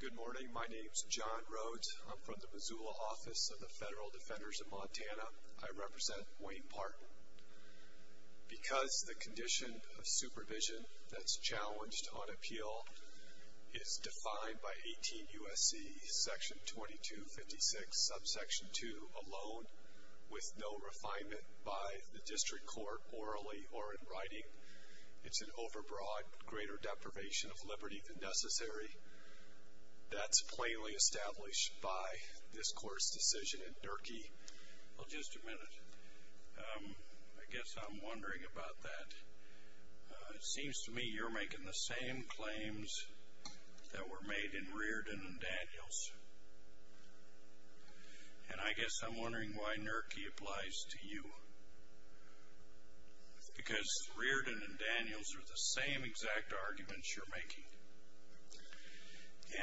Good morning. My name is John Rhodes. I'm from the Missoula Office of the Federal Defenders of Montana. I represent Wayne Partin. Because the condition of supervision that's challenged on appeal is defined by 18 U.S.C. section 2256 subsection 2 alone, with no refinement by the district court orally or in writing. It's an overbroad, greater deprivation of liberty than necessary. That's plainly established by this court's decision in Durkee. Well, just a minute. I guess I'm wondering about that. It seems to me you're making the same claims that were made in Reardon and Daniels. And I guess I'm wondering why Nurkee applies to you. Because Reardon and Daniels are the same exact arguments you're making.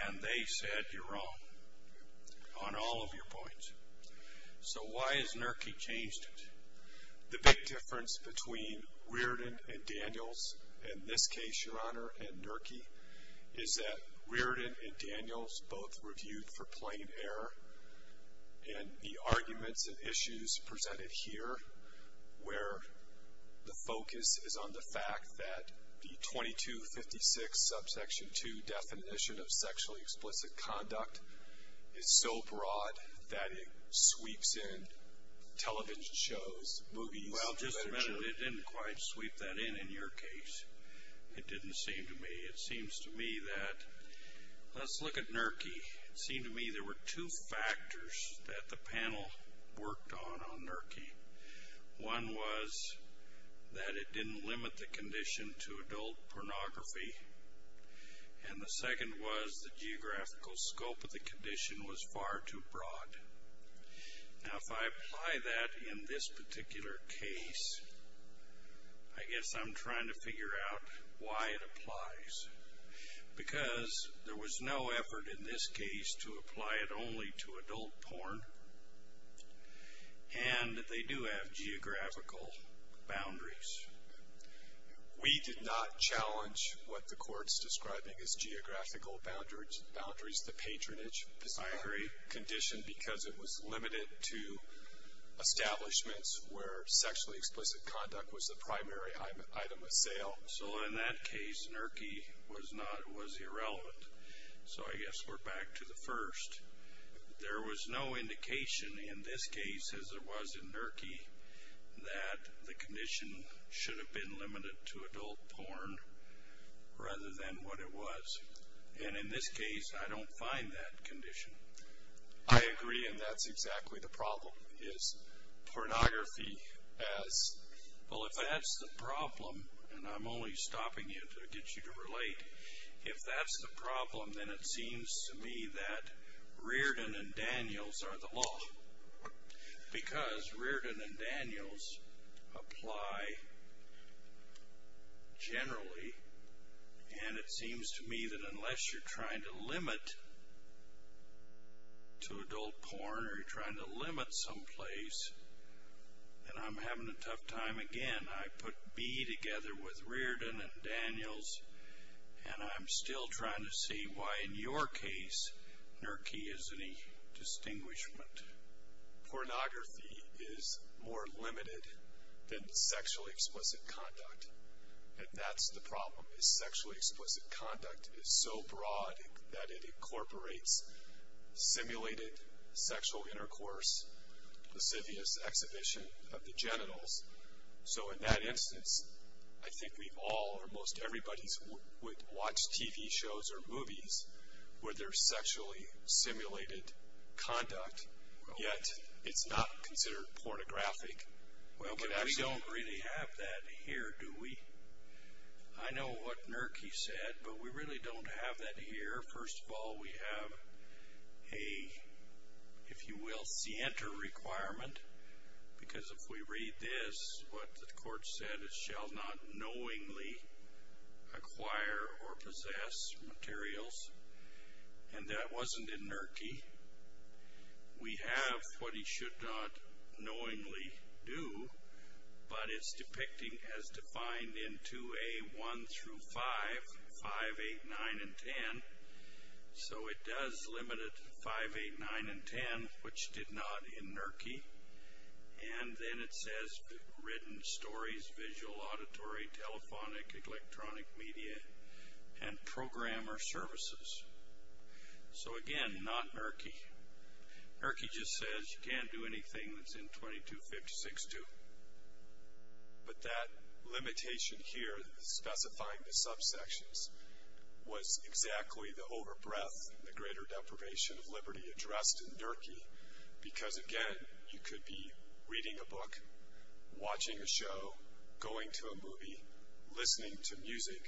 And they said you're wrong on all of your points. So why has Nurkee changed it? The big difference between Reardon and Daniels, in this case, Your Honor, and Nurkee, is that Reardon and Daniels both reviewed for plain error. And the arguments and issues presented here, where the focus is on the fact that the 2256 subsection 2 definition of sexually explicit conduct is so broad that it sweeps in television shows, movies. Well, just a minute. It didn't quite sweep that in in your case. It didn't seem to me. It seems to me that, let's look at Nurkee. It seemed to me there were two factors that the panel worked on on Nurkee. One was that it didn't limit the condition to adult pornography. And the second was the geographical scope of the condition was far too broad. Now, if I apply that in this particular case, I guess I'm trying to figure out why it applies. Because there was no effort in this case to apply it only to adult porn. And they do have geographical boundaries. We did not challenge what the court's describing as geographical boundaries, the patronage. I agree. Condition because it was limited to establishments where sexually explicit conduct was the primary item of sale. So in that case, Nurkee was irrelevant. So I guess we're back to the first. There was no indication in this case, as there was in Nurkee, that the condition should have been limited to adult porn rather than what it was. And in this case, I don't find that condition. I agree. And that's exactly the problem. Pornography as, well, if that's the problem, and I'm only stopping you to get you to relate. If that's the problem, then it seems to me that Reardon and Daniels are the law. Because Reardon and Daniels apply generally, and it seems to me that unless you're trying to limit to adult porn or you're trying to limit someplace, And I'm having a tough time again. I put B together with Reardon and Daniels, and I'm still trying to see why in your case, Nurkee is any distinguishment. Pornography is more limited than sexually explicit conduct. And that's the problem, is sexually explicit conduct is so broad that it incorporates simulated sexual intercourse, lascivious exhibition of the genitals. So in that instance, I think we've all or most everybody's watched TV shows or movies where there's sexually simulated conduct, yet it's not considered pornographic. Well, but we don't really have that here, do we? I know what Nurkee said, but we really don't have that here. First of all, we have a, if you will, scienter requirement. Because if we read this, what the court said is, shall not knowingly acquire or possess materials. And that wasn't in Nurkee. We have what he should not knowingly do, but it's depicting as defined in 2A1 through 5, 5, 8, 9, and 10. So it does limit it to 5, 8, 9, and 10, which did not in Nurkee. And then it says written stories, visual, auditory, telephonic, electronic media, and programmer services. So again, not Nurkee. Nurkee just says you can't do anything that's in 2256-2. But that limitation here, specifying the subsections, was exactly the overbreath and the greater deprivation of liberty addressed in Nurkee. Because again, you could be reading a book, watching a show, going to a movie, listening to music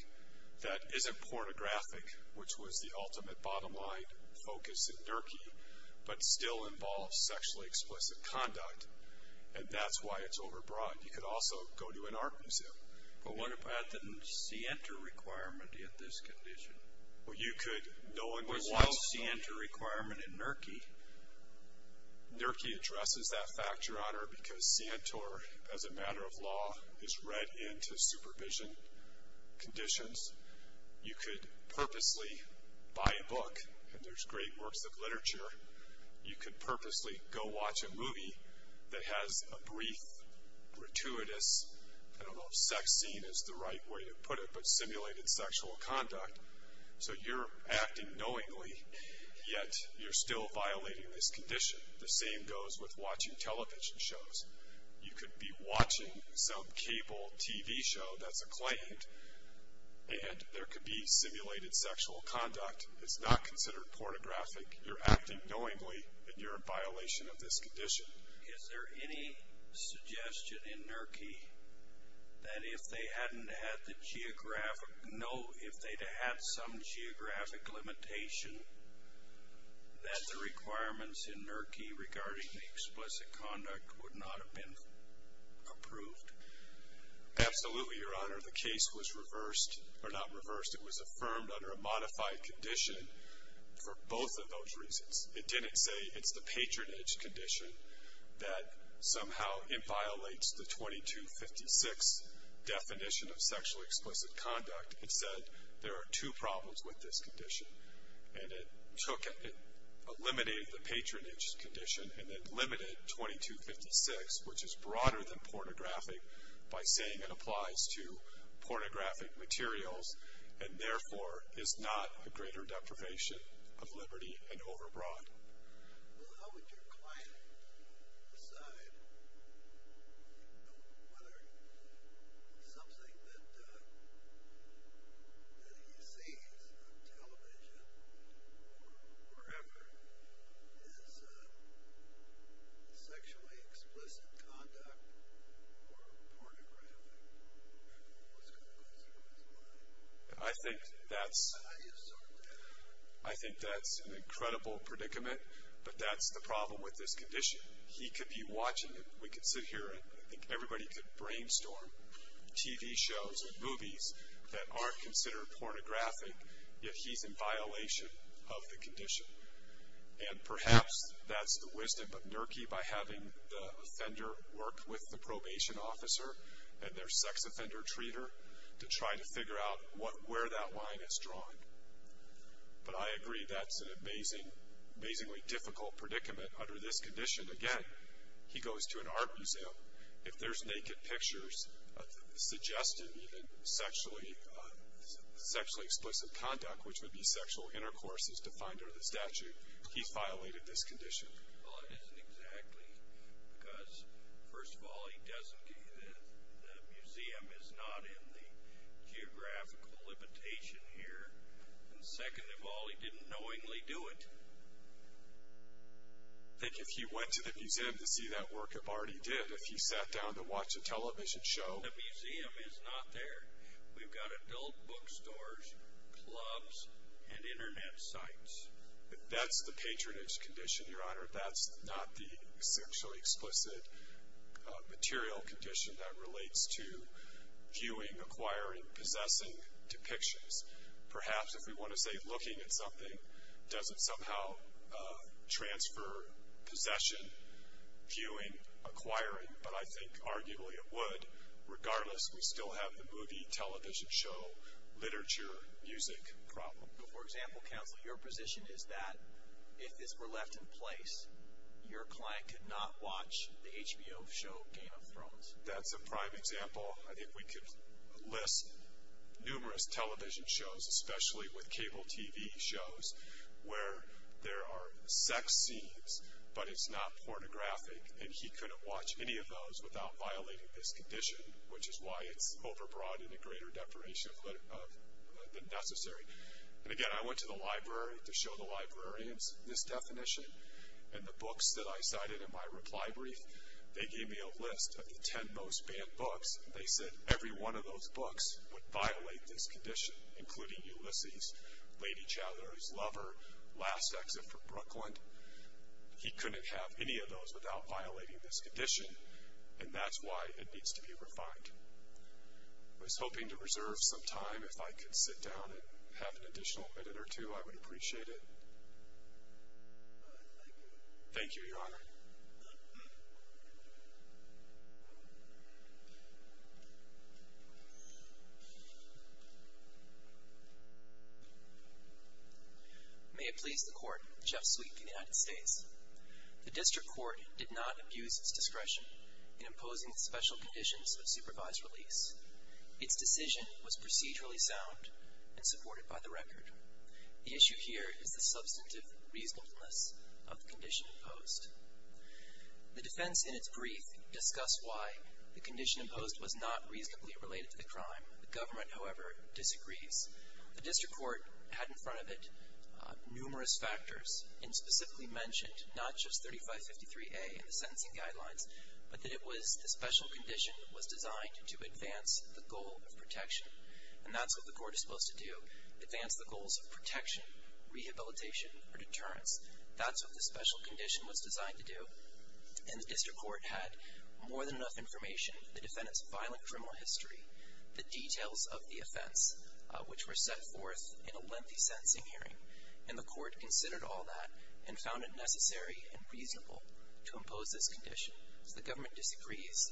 that isn't pornographic, which was the ultimate bottom line focus in Nurkee, but still involves sexually explicit conduct. And that's why it's overbroad. You could also go to an art museum. But what about the Sientor requirement in this condition? Well, you could, no one would want to. What's the Sientor requirement in Nurkee? Nurkee addresses that factor, Your Honor, because Sientor, as a matter of law, is read into supervision conditions. You could purposely buy a book, and there's great works of literature. You could purposely go watch a movie that has a brief, gratuitous, I don't know if sex scene is the right way to put it, but simulated sexual conduct. So you're acting knowingly, yet you're still violating this condition. The same goes with watching television shows. You could be watching some cable TV show that's acclaimed, and there could be simulated sexual conduct. It's not considered pornographic. You're acting knowingly, and you're in violation of this condition. Is there any suggestion in Nurkee that if they hadn't had the geographic, no, if they'd had some geographic limitation, that the requirements in Nurkee regarding the explicit conduct would not have been approved? Absolutely, Your Honor. The case was reversed, or not reversed. It was affirmed under a modified condition for both of those reasons. It didn't say it's the patronage condition that somehow violates the 2256 definition of sexually explicit conduct. It said there are two problems with this condition, and it eliminated the patronage condition and then limited 2256, which is broader than pornographic, by saying it applies to pornographic materials and therefore is not a greater deprivation of liberty and overbroad. Well, how would your client decide whether something that he sees on television or wherever is sexually explicit conduct or pornographic? What's going to go through his mind? I think that's an incredible predicament, but that's the problem with this condition. He could be watching, and we could sit here, and I think everybody could brainstorm TV shows and movies that aren't considered pornographic, yet he's in violation of the condition. And perhaps that's the wisdom of Nurkee by having the offender work with the probation officer and their sex offender treater to try to figure out where that line is drawn. But I agree that's an amazingly difficult predicament under this condition. Again, he goes to an art museum. If there's naked pictures suggesting even sexually explicit conduct, which would be sexual intercourse as defined under the statute, he's violated this condition. Well, it isn't exactly, because first of all, he doesn't do that. The museum is not in the geographical limitation here. And second of all, he didn't knowingly do it. Think if he went to the museum to see that work of art he did, if he sat down to watch a television show. The museum is not there. We've got adult bookstores, clubs, and Internet sites. That's the patronage condition, Your Honor. That's not the sexually explicit material condition that relates to viewing, acquiring, possessing depictions. Perhaps if we want to say looking at something doesn't somehow transfer possession, viewing, acquiring, but I think arguably it would, regardless we still have the movie, television show, literature, music problem. But for example, counsel, your position is that if this were left in place, your client could not watch the HBO show Game of Thrones. That's a prime example. I think we could list numerous television shows, especially with cable TV shows, where there are sex scenes, but it's not pornographic, and he couldn't watch any of those without violating this condition, which is why it's overbroad and a greater deprivation of the necessary. And again, I went to the library to show the librarians this definition, and the books that I cited in my reply brief, they gave me a list of the ten most banned books. They said every one of those books would violate this condition, including Ulysses, Lady Chowdhury's Lover, Last Exit from Brooklyn. He couldn't have any of those without violating this condition, and that's why it needs to be refined. I was hoping to reserve some time. If I could sit down and have an additional minute or two, I would appreciate it. Thank you, Your Honor. May it please the Court, Jeff Sweet from the United States. The District Court did not abuse its discretion in imposing the special conditions of supervised release. Its decision was procedurally sound and supported by the record. The issue here is the substantive reasonableness of the condition imposed. The defense in its brief discussed why the condition imposed was not reasonably related to the crime. The government, however, disagrees. The District Court had in front of it numerous factors and specifically mentioned not just 3553A in the sentencing guidelines, but that it was the special condition that was designed to advance the goal of protection, and that's what the court is supposed to do, advance the goals of protection, rehabilitation, or deterrence. That's what the special condition was designed to do. And the District Court had more than enough information, the defendant's violent criminal history, the details of the offense, which were set forth in a lengthy sentencing hearing. And the court considered all that and found it necessary and reasonable to impose this condition. The government disagrees. What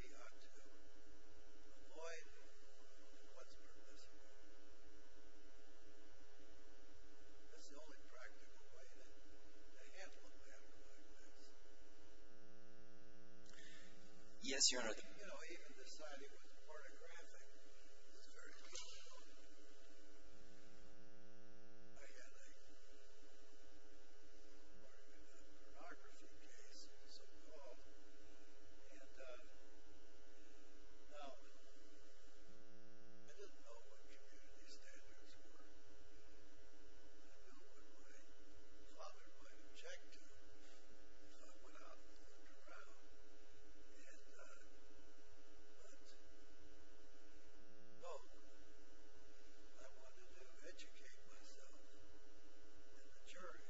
he ought to avoid and what's permissible. That's the only practical way to handle a matter like this. Yes, Your Honor. You know, even deciding what's pornographic is very difficult. Well, I had a pornography case, so-called. And now, I didn't know what community standards were. I didn't know what my father might object to, so I went out and looked around. And, but, well, I wanted to educate myself in the jury,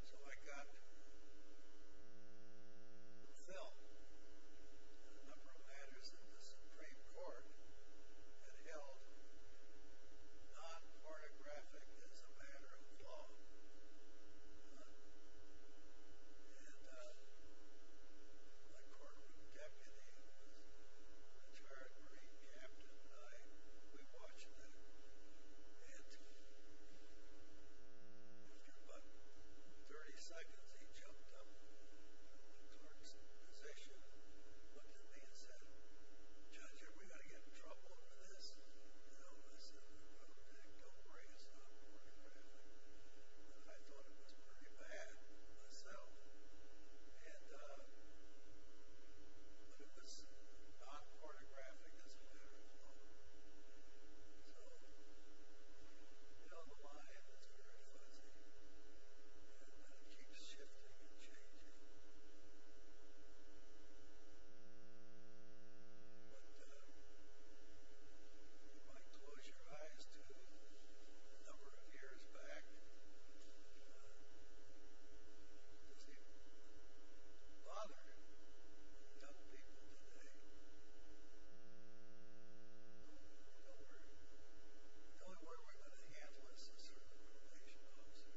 so I got myself a number of matters that the Supreme Court had held non-pornographic as a matter of law. And my courtroom deputy, who was a retired Marine captain, and I, we watched that. And in about 30 seconds, he jumped up in the clerk's position, looked at me, and said, Judge, are we going to get in trouble over this? And I said, don't worry, it's not pornographic. And I thought it was pretty bad, myself. And, but it was not pornographic as a matter of law. So, down the line, it's very fuzzy. And it keeps shifting and changing. But, if I close your eyes to a number of years back, does it bother young people today? No, not at all. The only word we're going to handle is a certain probation officer.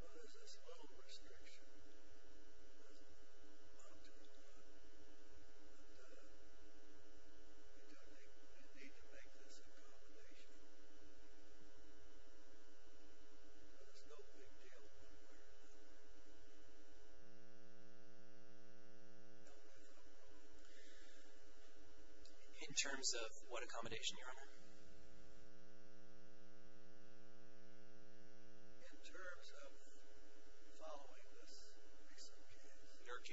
But it's a small restriction. It doesn't amount to a lot. But you do need to make this accommodation. But it's no big deal, one way or another. No big deal. In terms of what accommodation, Your Honor? In terms of following this case. NERCI.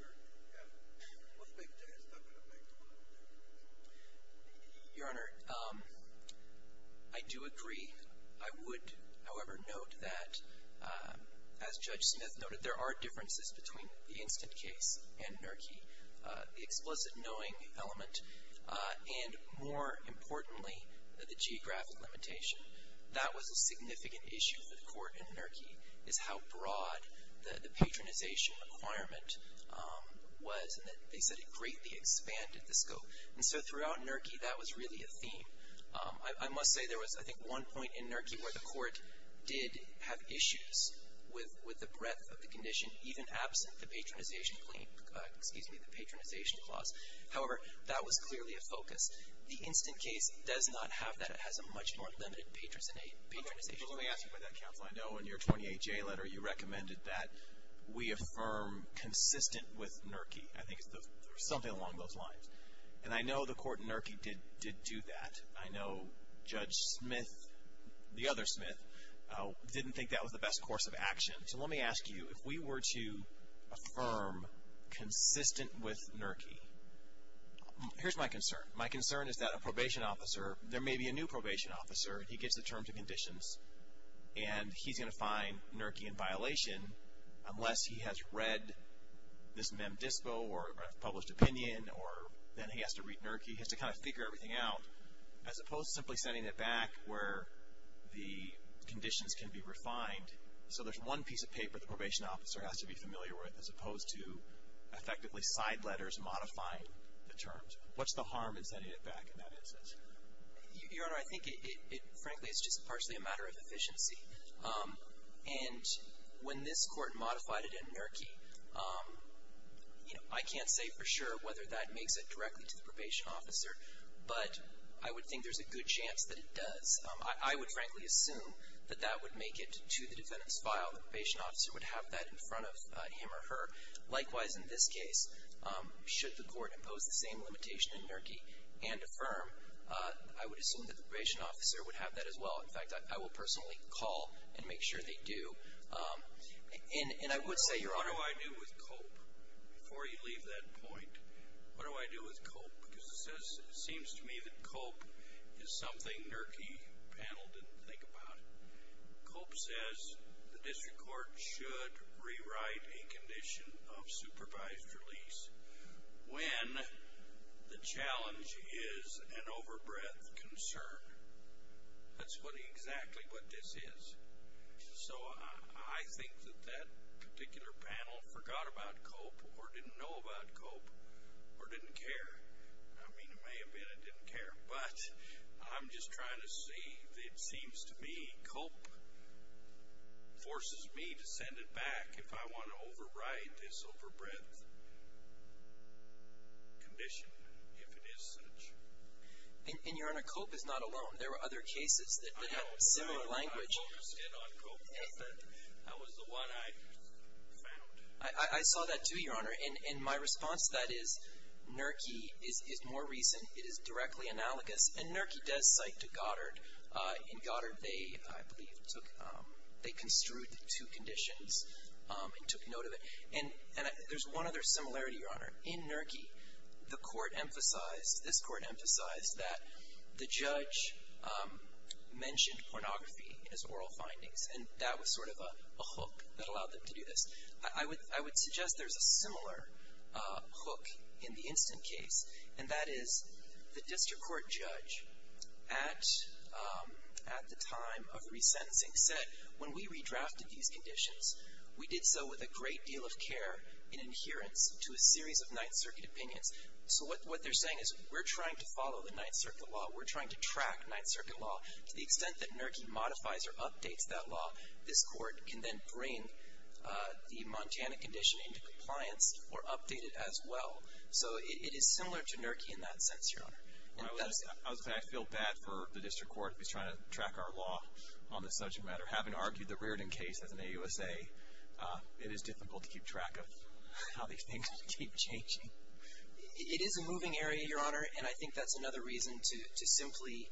NERCI. Yeah. One big day is not going to make a lot of difference. Your Honor, I do agree. I would, however, note that, as Judge Smith noted, there are differences between the instant case and NERCI. The explicit knowing element and, more importantly, the geographic limitation. That was a significant issue for the court in NERCI, is how broad the patronization requirement was. And they said it greatly expanded the scope. And so, throughout NERCI, that was really a theme. I must say there was, I think, one point in NERCI where the court did have issues with the breadth of the condition, even absent the patronization claim, excuse me, the patronization clause. However, that was clearly a focus. The instant case does not have that. It has a much more limited patronization claim. Well, let me ask you about that, counsel. I know in your 28-J letter you recommended that we affirm consistent with NERCI. I think there's something along those lines. And I know the court in NERCI did do that. I know Judge Smith, the other Smith, didn't think that was the best course of action. So let me ask you, if we were to affirm consistent with NERCI, here's my concern. My concern is that a probation officer, there may be a new probation officer, and he gets the terms and conditions, and he's going to find NERCI in violation unless he has read this Mem Dispo or published opinion or then he has to read NERCI. He has to kind of figure everything out, as opposed to simply sending it back where the conditions can be refined. So there's one piece of paper the probation officer has to be familiar with as opposed to effectively side letters modifying the terms. What's the harm in sending it back in that instance? Your Honor, I think it frankly is just partially a matter of efficiency. And when this court modified it in NERCI, you know, I can't say for sure whether that makes it directly to the probation officer, but I would think there's a good chance that it does. I would frankly assume that that would make it to the defendant's file. The probation officer would have that in front of him or her. Likewise, in this case, should the court impose the same limitation in NERCI and affirm, I would assume that the probation officer would have that as well. In fact, I will personally call and make sure they do. And I would say, Your Honor, what do I do with COPE? Before you leave that point, what do I do with COPE? Because it seems to me that COPE is something NERCI panel didn't think about. COPE says the district court should rewrite a condition of supervised release when the challenge is an overbreadth concern. That's exactly what this is. So I think that that particular panel forgot about COPE or didn't know about COPE or didn't care. I mean, it may have been it didn't care. But I'm just trying to see. It seems to me COPE forces me to send it back if I want to overwrite this overbreadth condition, if it is such. And, Your Honor, COPE is not alone. There were other cases that had similar language. I was the one I found. I saw that too, Your Honor. And my response to that is NERCI is more recent. It is directly analogous. And NERCI does cite to Goddard. In Goddard, they, I believe, they construed the two conditions and took note of it. And there's one other similarity, Your Honor. In NERCI, the court emphasized, this court emphasized, that the judge mentioned pornography in his oral findings. And that was sort of a hook that allowed them to do this. I would suggest there's a similar hook in the instant case, and that is the district court judge at the time of resentencing said, when we redrafted these conditions, we did so with a great deal of care and adherence to a series of Ninth Circuit opinions. So what they're saying is, we're trying to follow the Ninth Circuit law. We're trying to track Ninth Circuit law. To the extent that NERCI modifies or updates that law, this court can then bring the Montana condition into compliance or update it as well. So it is similar to NERCI in that sense, Your Honor. And that's it. I feel bad for the district court who's trying to track our law on this subject matter, for having argued the Reardon case as an AUSA. It is difficult to keep track of how these things keep changing. It is a moving area, Your Honor, and I think that's another reason to simply...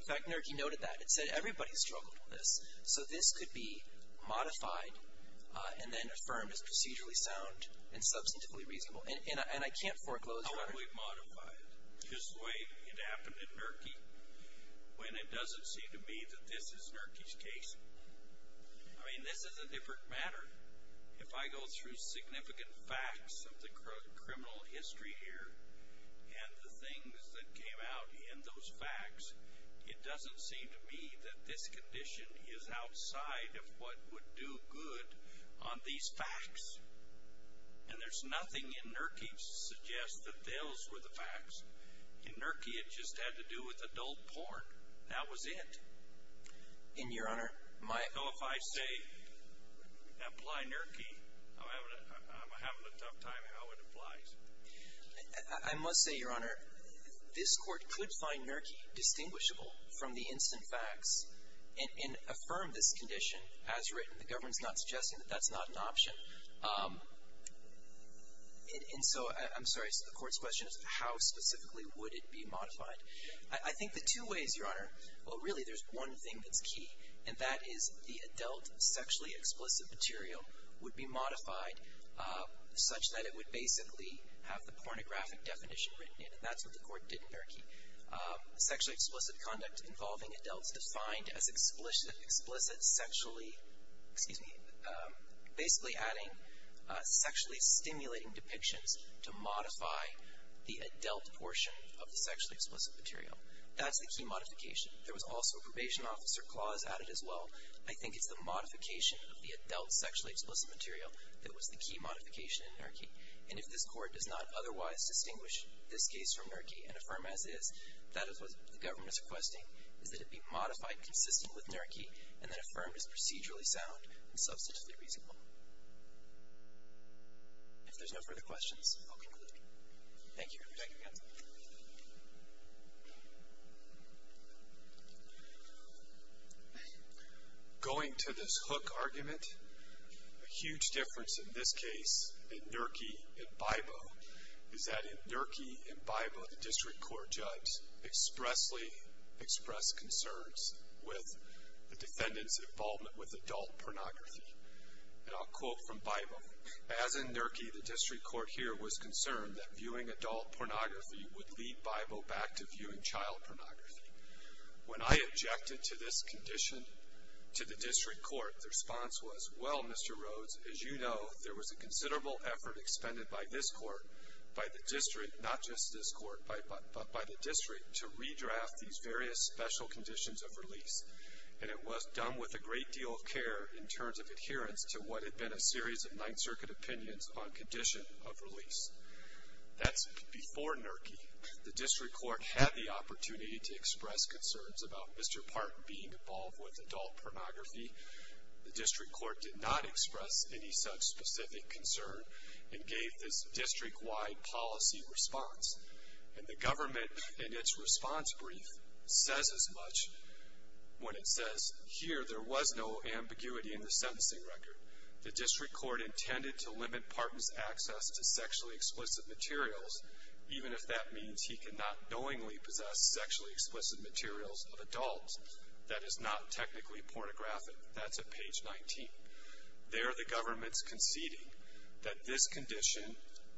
In fact, NERCI noted that. It said everybody struggled with this. So this could be modified and then affirmed as procedurally sound and substantively reasonable. And I can't foreclose, Your Honor. How do we modify it? It's just the way it happened in NERCI, when it doesn't seem to me that this is NERCI's case. I mean, this is a different matter. If I go through significant facts of the criminal history here and the things that came out in those facts, it doesn't seem to me that this condition is outside of what would do good on these facts. And there's nothing in NERCI to suggest that those were the facts. In NERCI, it just had to do with adult porn. That was it. And, Your Honor, my... So if I say, apply NERCI, I'm having a tough time how it applies. I must say, Your Honor, this court could find NERCI distinguishable from the instant facts and affirm this condition as written. The government's not suggesting that that's not an option. And so, I'm sorry, so the court's question is how specifically would it be modified? I think the two ways, Your Honor. Well, really, there's one thing that's key, and that is the adult sexually explicit material would be modified such that it would basically have the pornographic definition written in it. And that's what the court did in NERCI. Sexually explicit conduct involving adults defined as explicit sexually, excuse me, basically adding sexually stimulating depictions to modify the adult portion of the sexually explicit material. That's the key modification. There was also a probation officer clause added as well. I think it's the modification of the adult sexually explicit material that was the key modification in NERCI. And if this court does not otherwise distinguish this case from NERCI and affirm as is, that is what the government is requesting, is that it be modified consistent with NERCI and then affirmed as procedurally sound and substantively reasonable. If there's no further questions, I'll conclude. Thank you. Thank you, counsel. Going to this hook argument, a huge difference in this case, in NERCI and BIBO, is that in NERCI and BIBO, the district court judge expressly expressed concerns with the defendant's involvement with adult pornography. And I'll quote from BIBO. As in NERCI, the district court here was concerned that viewing adult pornography would lead BIBO back to viewing child pornography. When I objected to this condition to the district court, the response was, well, Mr. Rhodes, as you know, there was a considerable effort expended by this court, by the district, not just this court, but by the district, to redraft these various special conditions of release. And it was done with a great deal of care in terms of adherence to what had been a series of Ninth Circuit opinions on condition of release. That's before NERCI. The district court had the opportunity to express concerns about Mr. Parton being involved with adult pornography. The district court did not express any such specific concern and gave this district-wide policy response. And the government, in its response brief, says as much when it says, here, there was no ambiguity in the sentencing record. The district court intended to limit Parton's access to sexually explicit materials, even if that means he could not knowingly possess sexually explicit materials of adults. That is not technically pornographic. That's at page 19. There, the government's conceding that this condition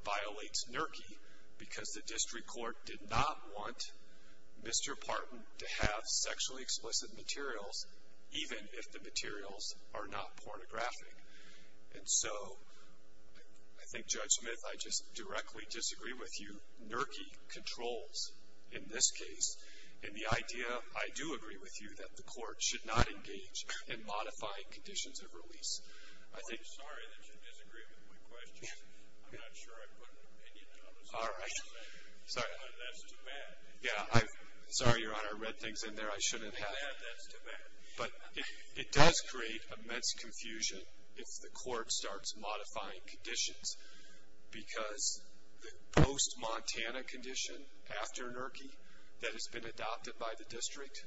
violates NERCI because the district court did not want Mr. Parton to have sexually explicit materials, even if the materials are not pornographic. And so I think, Judge Smith, I just directly disagree with you. NERCI controls in this case. And the idea, I do agree with you, that the court should not engage in modifying conditions of release. I'm sorry that you disagree with my question. I'm not sure I put an opinion on this. All right. Sorry. That's too bad. Yeah. Sorry, Your Honor. I read things in there I shouldn't have. That's too bad. But it does create immense confusion if the court starts modifying conditions because the post-Montana condition after NERCI that has been adopted by the district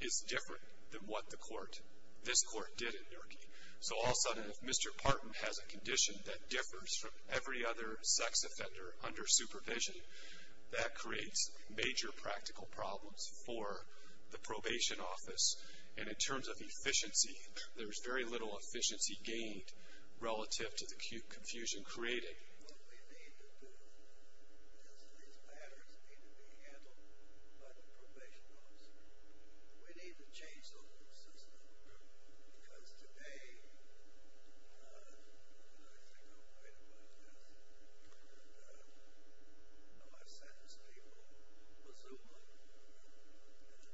is different than what the court, this court, did at NERCI. So all of a sudden, if Mr. Parton has a condition that differs from every other sex offender under supervision, that creates major practical problems for the probation office. And in terms of efficiency, there's very little efficiency gained relative to the confusion created. What we need to do is these matters need to be handled by the probation office. We need to change the whole system because today, and I think I'll write about this, you know, I've sentenced people with Zumba. And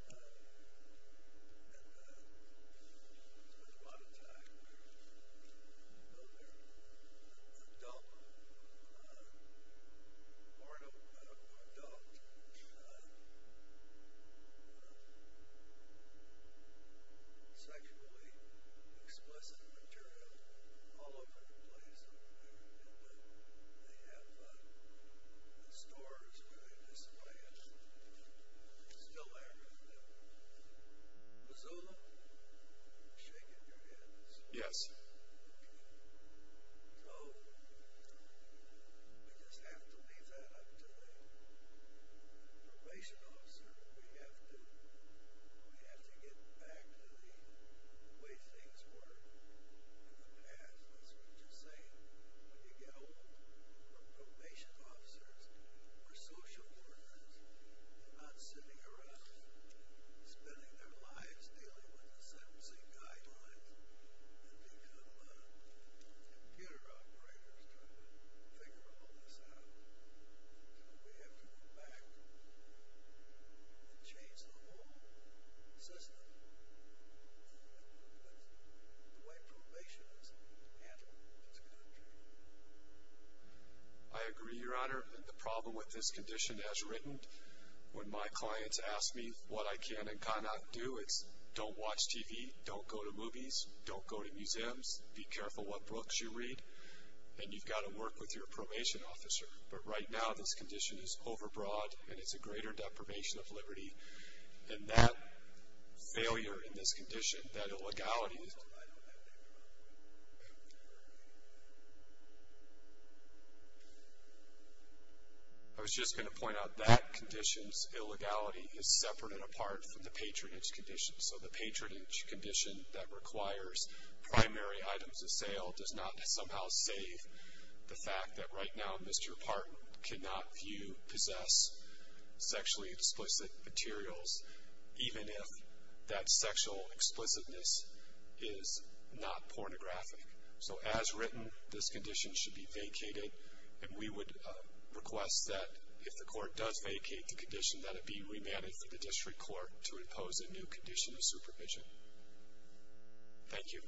there's a lot of time where, you know, they're adult, part of adult sexually explicit material all over the place. They have the stores where they display it. It's still there. The Zumba? You're shaking your head. Yes. Okay. So we just have to leave that up to the probation officer. We have to get back to the way things were in the past. That's what you're saying. When you get old, the probation officers are social workers. They're not sitting around spending their lives dealing with the sentencing guidelines and become computer operators trying to figure all this out. So we have to go back and change the whole system, the way probation is handled in this country. I agree, Your Honor, and the problem with this condition as written, when my clients ask me what I can and cannot do, it's don't watch TV, don't go to movies, don't go to museums, be careful what books you read, and you've got to work with your probation officer. But right now this condition is overbroad, and it's a greater deprivation of liberty. And that failure in this condition, that illegality, I was just going to point out that condition's illegality is separate and apart from the patronage condition. So the patronage condition that requires primary items of sale does not somehow save the fact that right now Mr. Parton cannot view, possess sexually explicit materials, even if that sexual explicitness is not pornographic. So as written, this condition should be vacated. And we would request that if the court does vacate the condition, that it be remanded for the district court to impose a new condition of supervision. Thank you.